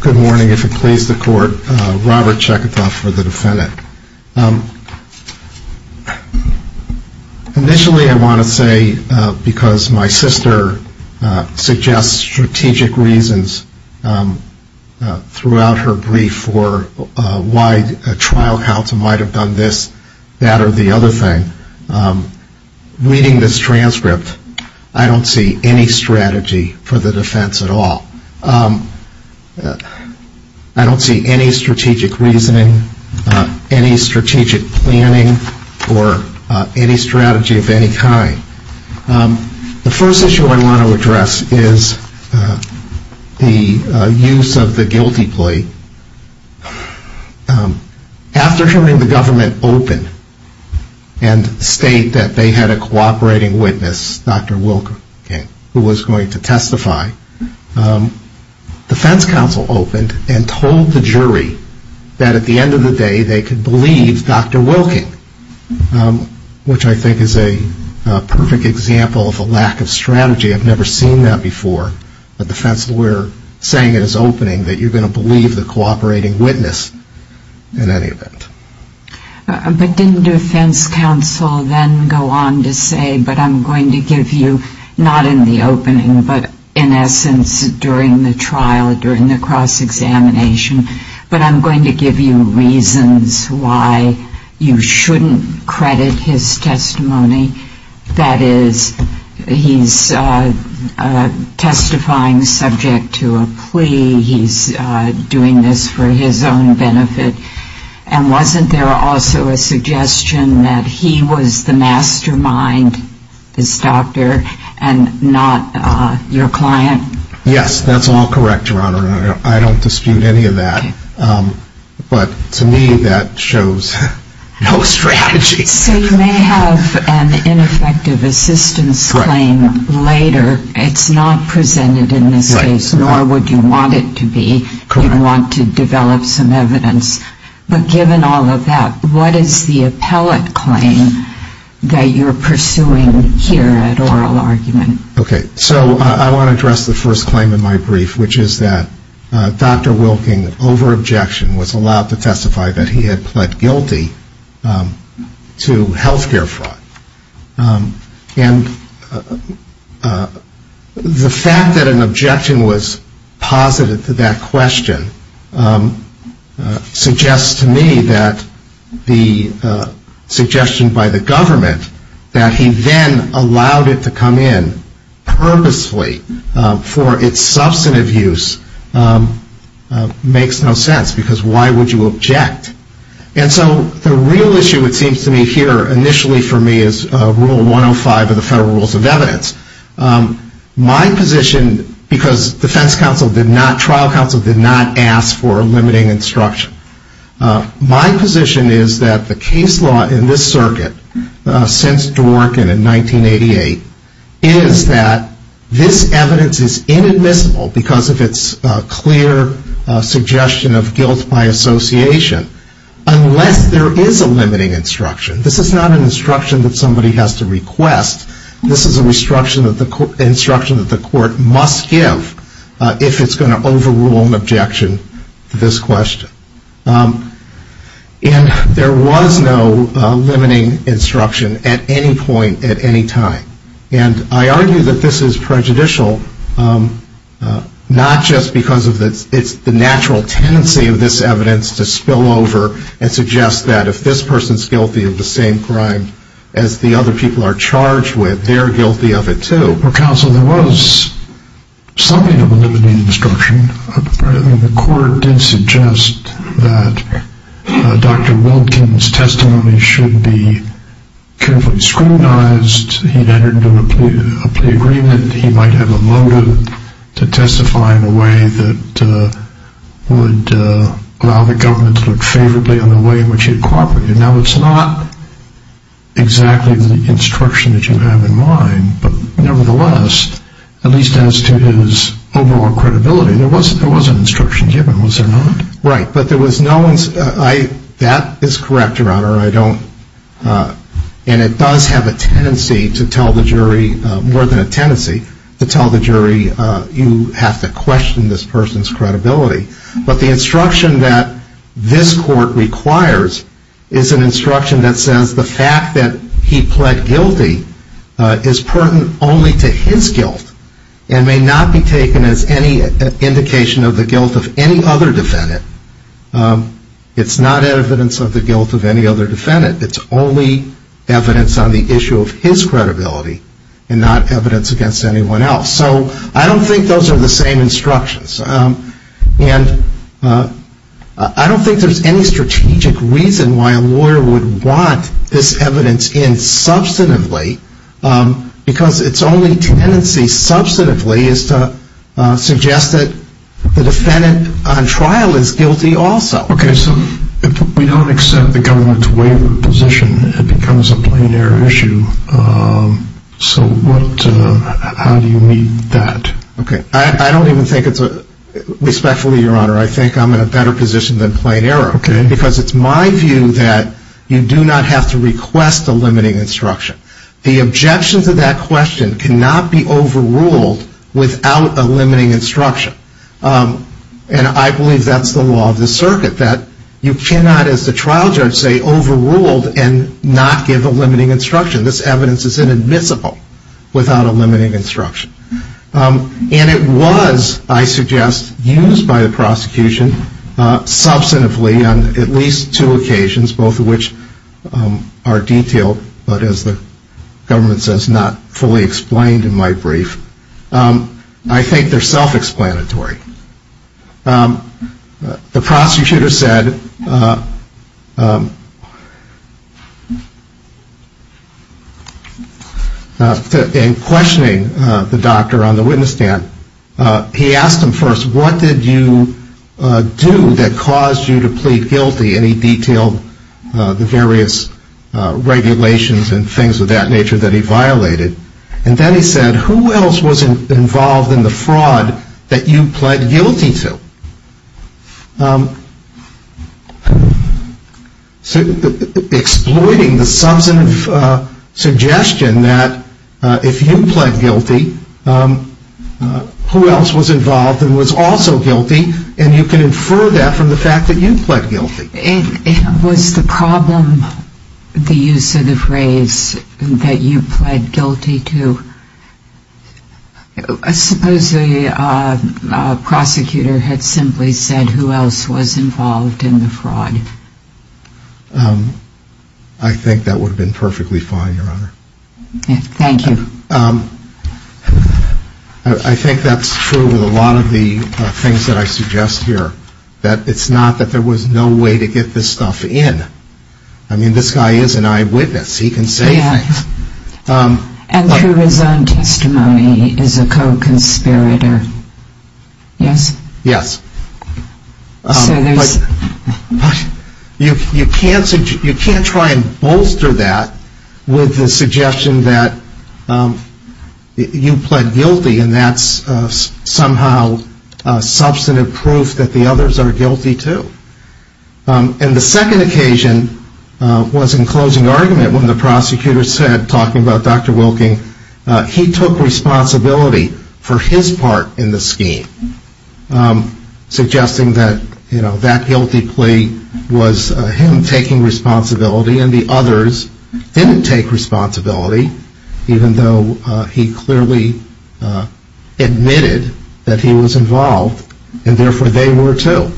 Good morning, if it pleases the court. Robert Chekatov for the defendant. Initially, I want to say, because my sister suggests strategic reasons throughout her brief for why a trial counsel might have done this, that, or the other thing. Reading this transcript, I don't see any strategy for the defense at all. I don't see any strategic reasoning, any strategic planning, or any strategy of any kind. The first issue I want to address is the use of the guilty plea. After hearing the government open and state that they had a cooperating witness, Dr. Wilking, who was going to testify, the defense counsel opened and told the jury that at the end of the day, they could believe Dr. Wilking, which I think is a perfect example of a lack of strategy. I've never seen that before, but the defense lawyer saying in his opening that you're going to believe the cooperating witness in any event. But didn't defense counsel then go on to say, but I'm going to give you, not in the opening, but in essence during the trial, during the cross-examination, but I'm going to give you reasons why you shouldn't credit his testimony. That is, he's testifying subject to a plea. He's doing this for his own benefit. And wasn't there also a suggestion that he was the mastermind, this doctor, and not your client? Yes, that's all correct, Your Honor. I don't dispute any of that. But to me, that shows no strategy. So you may have an ineffective assistance claim later. It's not presented in this case, nor would you want it to be. You'd want to develop some evidence. But given all of that, what is the appellate claim that you're pursuing here at oral argument? Okay, so I want to address the first claim in my brief, which is that Dr. Wilking, over objection, was allowed to testify that he had pled guilty to health care fraud. And the fact that an objection was posited to that question suggests to me that the suggestion by the government that he then allowed it to come in purposefully for its substantive use makes no sense, because why would you object? And so the real issue it seems to me here, initially for me, is Rule 105 of the Federal Rules of Evidence. My position, because defense counsel did not, trial counsel did not ask for a limiting instruction, my position is that the case law in this circuit, since Dworkin in 1988, is that this evidence is inadmissible because of its clear suggestion of guilt by association, unless there is a limiting instruction. This is not an instruction that somebody has to request. This is an instruction that the court must give if it's going to overrule an objection to this question. And there was no limiting instruction at any point at any time. And I argue that this is prejudicial, not just because it's the natural tendency of this evidence to spill over and suggest that if this person is guilty of the same crime as the other people are charged with, they're guilty of it too. Counsel, there was something of a limiting instruction. The court did suggest that Dr. Wilkin's testimony should be carefully scrutinized, he'd entered into a plea agreement, he might have a motive to testify in a way that would allow the government to look favorably on the way in which he had cooperated. Now, it's not exactly the instruction that you have in mind, but nevertheless, at least as to his overall credibility, there was an instruction given, was there not? Right, but that is correct, Your Honor. And it does have a tendency to tell the jury, more than a tendency to tell the jury, you have to question this person's credibility. But the instruction that this court requires is an instruction that says the fact that he pled guilty is pertinent only to his guilt and may not be taken as any indication of the guilt of any other defendant. It's not evidence of the guilt of any other defendant, it's only evidence on the issue of his credibility and not evidence against anyone else. So I don't think those are the same instructions. And I don't think there's any strategic reason why a lawyer would want this evidence in substantively, because its only tendency substantively is to suggest that the defendant on trial is guilty also. Okay, so if we don't accept the government's waiver position, it becomes a plain error issue, so how do you meet that? Okay, I don't even think it's a, respectfully, Your Honor, I think I'm in a better position than plain error, because it's my view that you do not have to request a limiting instruction. The objection to that question cannot be overruled without a limiting instruction. And I believe that's the law of the circuit, that you cannot, as the trial judge say, overrule and not give a limiting instruction. This evidence is inadmissible without a limiting instruction. And it was, I suggest, used by the prosecution substantively on at least two occasions, both of which are detailed, but as the government says, not fully explained in my brief. I think they're self-explanatory. The prosecutor said, in questioning the doctor on the witness stand, he asked him first, what did you do that caused you to plead guilty? And he detailed the various regulations and things of that nature that he violated. And then he said, who else was involved in the fraud that you pled guilty to? So exploiting the substantive suggestion that if you pled guilty, who else was involved and was also guilty, and you can infer that from the fact that you pled guilty. Was the problem the use of the phrase that you pled guilty to? Suppose the prosecutor had simply said, who else was involved in the fraud? I think that would have been perfectly fine, Your Honor. Thank you. I think that's true with a lot of the things that I suggest here. That it's not that there was no way to get this stuff in. I mean, this guy is an eyewitness. He can say things. And through his own testimony, he is a co-conspirator. Yes? Yes. But you can't try and bolster that with the suggestion that you pled guilty, and that's somehow substantive proof that the others are guilty, too. And the second occasion was in closing argument when the prosecutor said, talking about Dr. Wilking, he took responsibility for his part in the scheme. Suggesting that, you know, that guilty plea was him taking responsibility, and the others didn't take responsibility, even though he clearly admitted that he was involved, and therefore they were, too.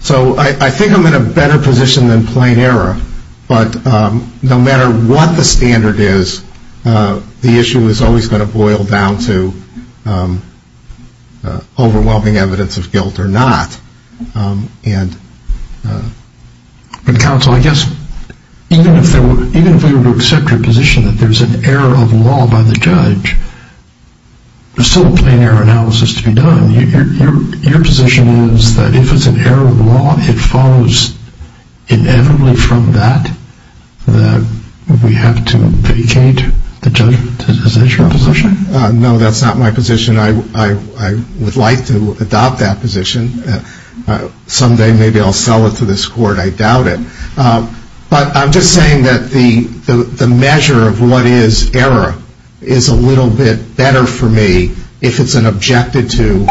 So, I think I'm in a better position than plain error, but no matter what the standard is, the issue is always going to boil down to overwhelming evidence of guilt or not. But, counsel, I guess even if we were to accept your position that there's an error of law by the judge, there's still a plain error analysis to be done. Your position is that if it's an error of law, it follows inevitably from that that we have to vacate the judgment. Is that your position? No, that's not my position. I would like to adopt that position. Someday, maybe I'll sell it to this court. I doubt it. But I'm just saying that the measure of what is error is a little bit better for me if it's an objected-to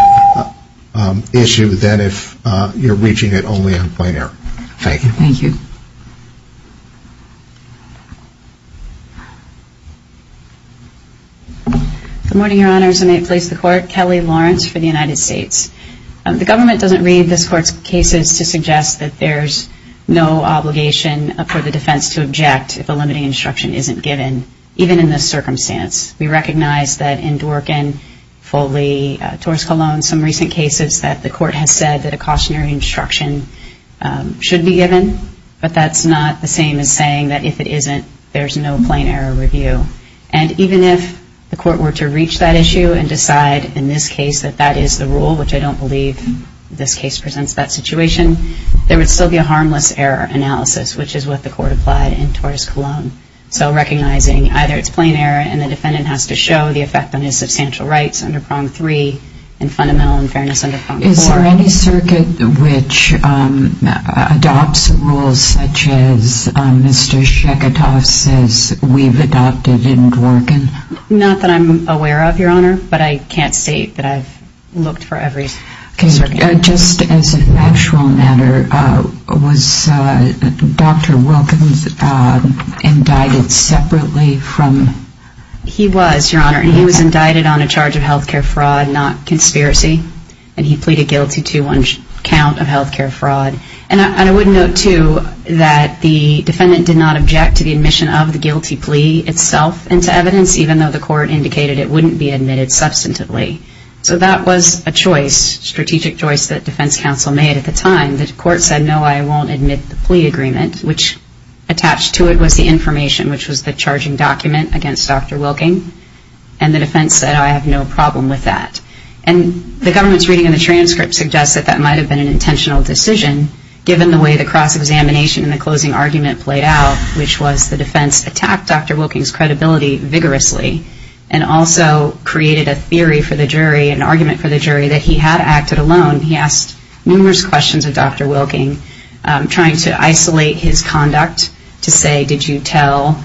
issue than if you're reaching it only on plain error. Thank you. Good morning, Your Honors. I may place the Court. Kelly Lawrence for the United States. I think it's important for court cases to suggest that there's no obligation for the defense to object if a limiting instruction isn't given, even in this circumstance. We recognize that in Dworkin, Foley, Torres-Colón, some recent cases that the Court has said that a cautionary instruction should be given, but that's not the same as saying that if it isn't, there's no plain error review. And even if the Court were to reach that issue and decide in this case that that is the rule, which I don't believe this case presents that situation, there would still be a harmless error analysis, which is what the Court applied in Torres-Colón. So recognizing either it's plain error and the defendant has to show the effect on his substantial rights under Prong 3 and fundamental unfairness under Prong 4. Is there any circuit which adopts rules such as Mr. Sheketoff says we've adopted in Dworkin? Not that I'm aware of, Your Honor, but I can't say that I've looked for every circuit. Just as a factual matter, was Dr. Wilkins indicted separately from... He was, Your Honor, and he was indicted on a charge of health care fraud, not conspiracy, and he pleaded guilty to one count of health care fraud. And I would note, too, that the defendant did not object to the admission of the guilty plea itself into evidence, even though the Court indicated it wouldn't be admitted substantively. So that was a choice, strategic choice, that defense counsel made at the time. The Court said, no, I won't admit the plea agreement, which attached to it was the information, which was the charging document against Dr. Wilking. And the defense said, I have no problem with that. And the government's reading of the transcript suggests that that might have been an intentional decision, given the way the cross-examination and the closing argument played out, which was the defense attacked Dr. Wilking's credibility vigorously and also created a theory for the jury, an argument for the jury, that he had acted alone. He asked numerous questions of Dr. Wilking, trying to isolate his conduct to say, did you tell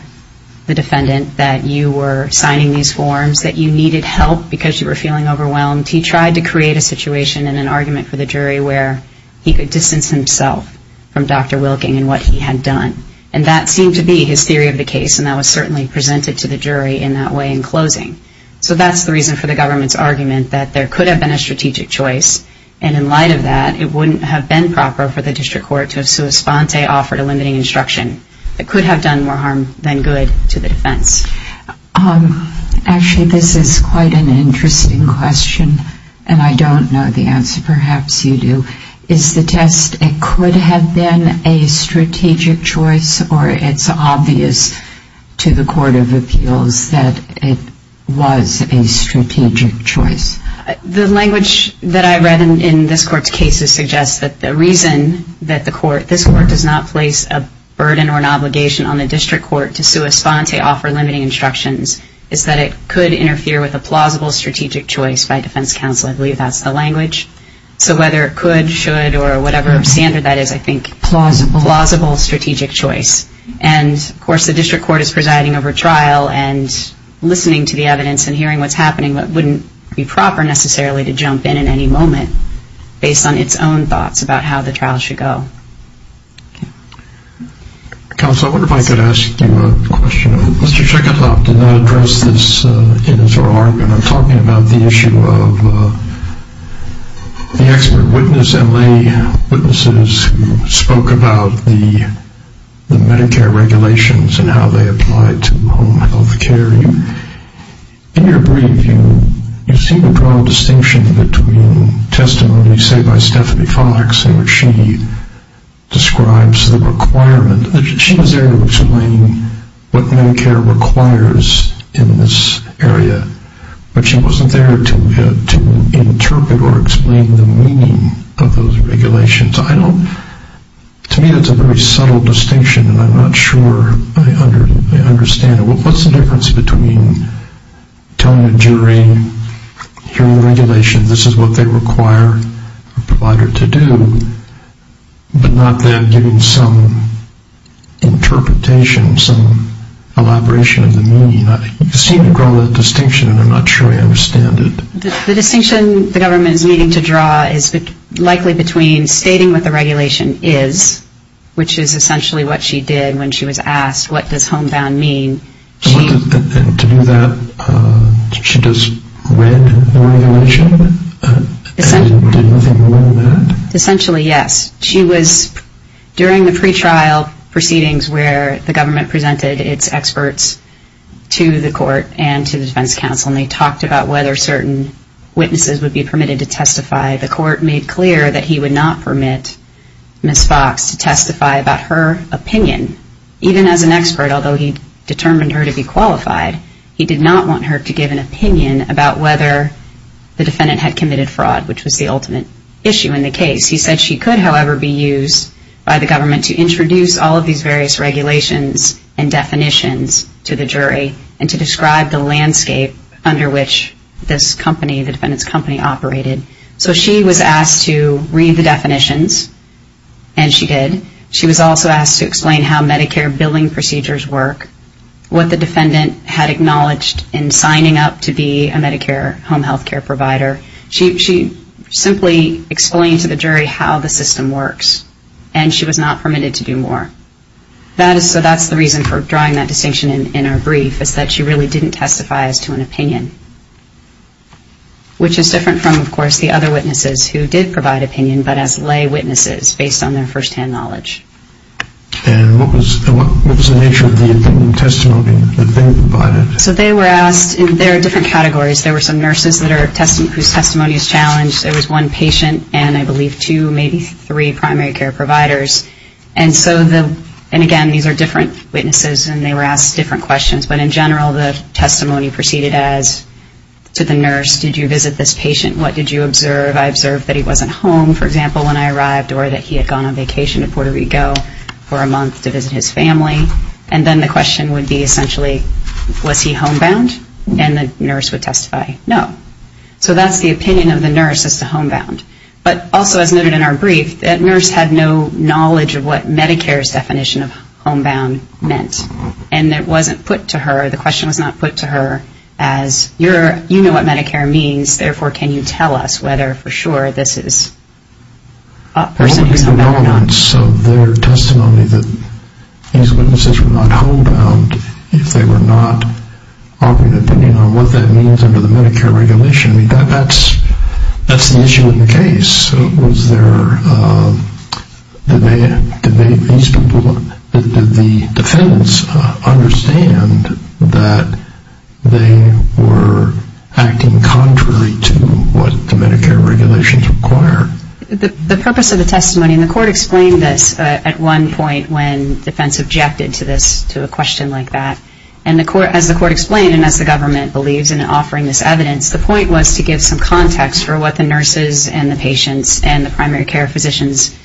the defendant that you were signing these forms, that you needed help because you were feeling overwhelmed? He tried to create a situation and an argument for the jury where he could distance himself from Dr. Wilking and what he had done. And that seemed to be his theory of the case, and that was certainly presented to the jury in that way in closing. So that's the reason for the government's argument that there could have been a strategic choice. And in light of that, it wouldn't have been proper for the District Court to have sua sponte offered a limiting instruction. It could have done more harm than good to the defense. Actually, this is quite an interesting question, and I don't know the answer. Perhaps you do. Is the test, it could have been a strategic choice, or it's obvious to the Court of Appeals that it was a strategic choice? The language that I read in this Court's cases suggests that the reason that this Court does not place a burden or an obligation on the District Court to sua sponte offer limiting instructions is that it could interfere with a plausible strategic choice by defense counsel. I believe that's the language. So whether it could, should, or whatever standard that is, I think plausible strategic choice. And, of course, the District Court is presiding over trial and listening to the evidence and hearing what's happening, but it wouldn't be proper necessarily to jump in at any moment based on its own thoughts about how the trial should go. Counsel, I wonder if I could ask you a question. Mr. Checkertop did not address this in his oral argument. I'm talking about the issue of the expert witness, LA witnesses who spoke about the Medicare regulations and how they apply to home health care. In your brief, you seem to draw a distinction between testimony, say, by Stephanie Fox in which she describes the requirement. She was there to explain what Medicare requires in this area, but she wasn't there to interpret or explain the meaning of those regulations. To me, that's a very subtle distinction, and I'm not sure I understand it. What's the difference between telling a jury, hearing the regulations, this is what they require a provider to do, but not then giving some interpretation, some elaboration of the meaning? You seem to draw that distinction, and I'm not sure I understand it. The distinction the government is needing to draw is likely between stating what the regulation is, which is essentially what she did when she was asked, what does homebound mean? To do that, she just read the regulation and did nothing more than that? The court made clear that he would not permit Ms. Fox to testify about her opinion, even as an expert, although he determined her to be qualified. He did not want her to give an opinion about whether the defendant had committed fraud, which was the ultimate issue in the case. He said she could, however, be used by the government to introduce all of these various regulations and definitions to the jury and to describe the landscape under which this company, the defendant's company, operated. So she was asked to read the definitions, and she did. She was also asked to explain how Medicare billing procedures work, what the defendant had acknowledged in signing up to be a Medicare home health care provider. She simply explained to the jury how the system works, and she was not permitted to do more. So that's the reason for drawing that distinction in our brief, is that she really didn't testify as to an opinion, which is different from, of course, the other witnesses who did provide opinion, but as lay witnesses based on their firsthand knowledge. And what was the nature of the opinion testimony that they provided? So they were asked, and there are different categories. There were some nurses whose testimony was challenged. There was one patient and, I believe, two, maybe three primary care providers. And again, these are different witnesses, and they were asked different questions. But in general, the testimony proceeded as, to the nurse, did you visit this patient? What did you observe? I observed that he wasn't home, for example, when I arrived, or that he had gone on vacation to Puerto Rico for a month to visit his family. And then the question would be, essentially, was he homebound? And the nurse would testify, no. So that's the opinion of the nurse as to homebound. But also, as noted in our brief, that nurse had no knowledge of what Medicare's definition of homebound meant. And it wasn't put to her, the question was not put to her as, you know what Medicare means, therefore can you tell us whether for sure this is a person who's homebound or not. And so their testimony that these witnesses were not homebound, if they were not offering an opinion on what that means under the Medicare regulation, that's the issue in the case. Was there a debate with these people? Did the defendants understand that they were acting contrary to what the Medicare regulations require? The purpose of the testimony, and the court explained this at one point when defense objected to this, to a question like that. And as the court explained, and as the government believes in offering this evidence, the point was to give some context for what the nurses and the patients and the primary care physicians'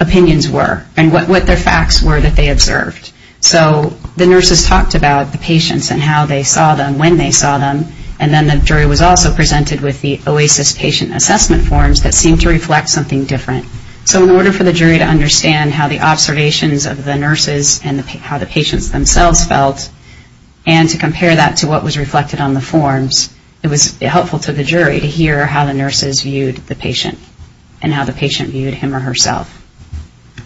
opinions were, and what their facts were that they observed. So the nurses talked about the patients and how they saw them, when they saw them, and then the jury was also presented with the OASIS patient assessment forms that seemed to reflect something different. So in order for the jury to understand how the observations of the nurses and how the patients themselves felt, and to compare that to what was reflected on the forms, it was helpful to the jury to hear how the nurses viewed the patient, and how the patient viewed him or herself.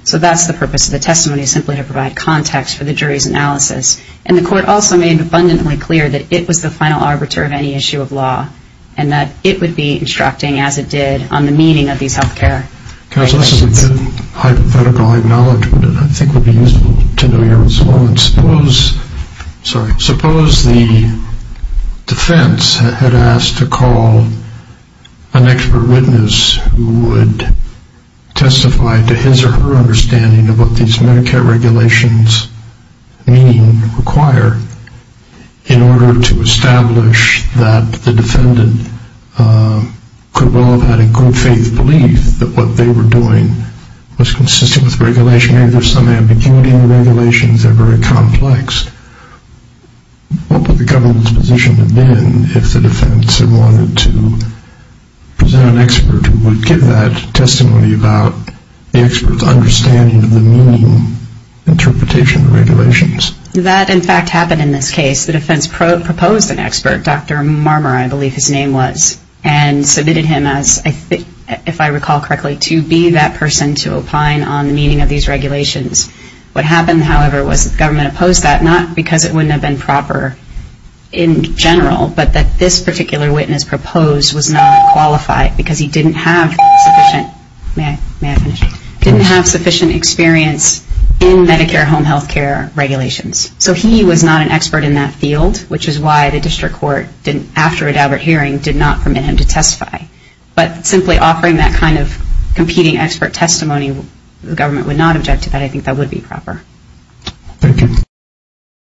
So that's the purpose of the testimony, simply to provide context for the jury's analysis. And the court also made abundantly clear that it was the final arbiter of any issue of law, and that it would be instructing as it did on the meaning of these health care questions. Counsel, this is a good hypothetical acknowledgment, and I think it would be useful to know your response. Suppose the defense had asked to call an expert witness who would testify to his or her understanding of what these Medicare regulations mean, require, in order to establish that the defendant could well have had a good faith belief that what they were doing was consistent with regulation. Maybe there's some ambiguity in the regulations, they're very complex. What would the government's position have been if the defense had wanted to present an expert who would give that testimony about the expert's understanding of the meaning, interpretation of the regulations? That, in fact, happened in this case. The defense proposed an expert, Dr. Marmer, I believe his name was, and submitted him as, if I recall correctly, to be that person to opine on the meaning of these regulations. What happened, however, was that the government opposed that, not because it wouldn't have been proper in general, but that this particular witness proposed was not qualified because he didn't have sufficient experience in Medicare home health care regulations. So he was not an expert in that field, which is why the district court, after a deliberate hearing, did not permit him to testify. But simply offering that kind of competing expert testimony, the government would not object to that, I think that would be proper. Thank you.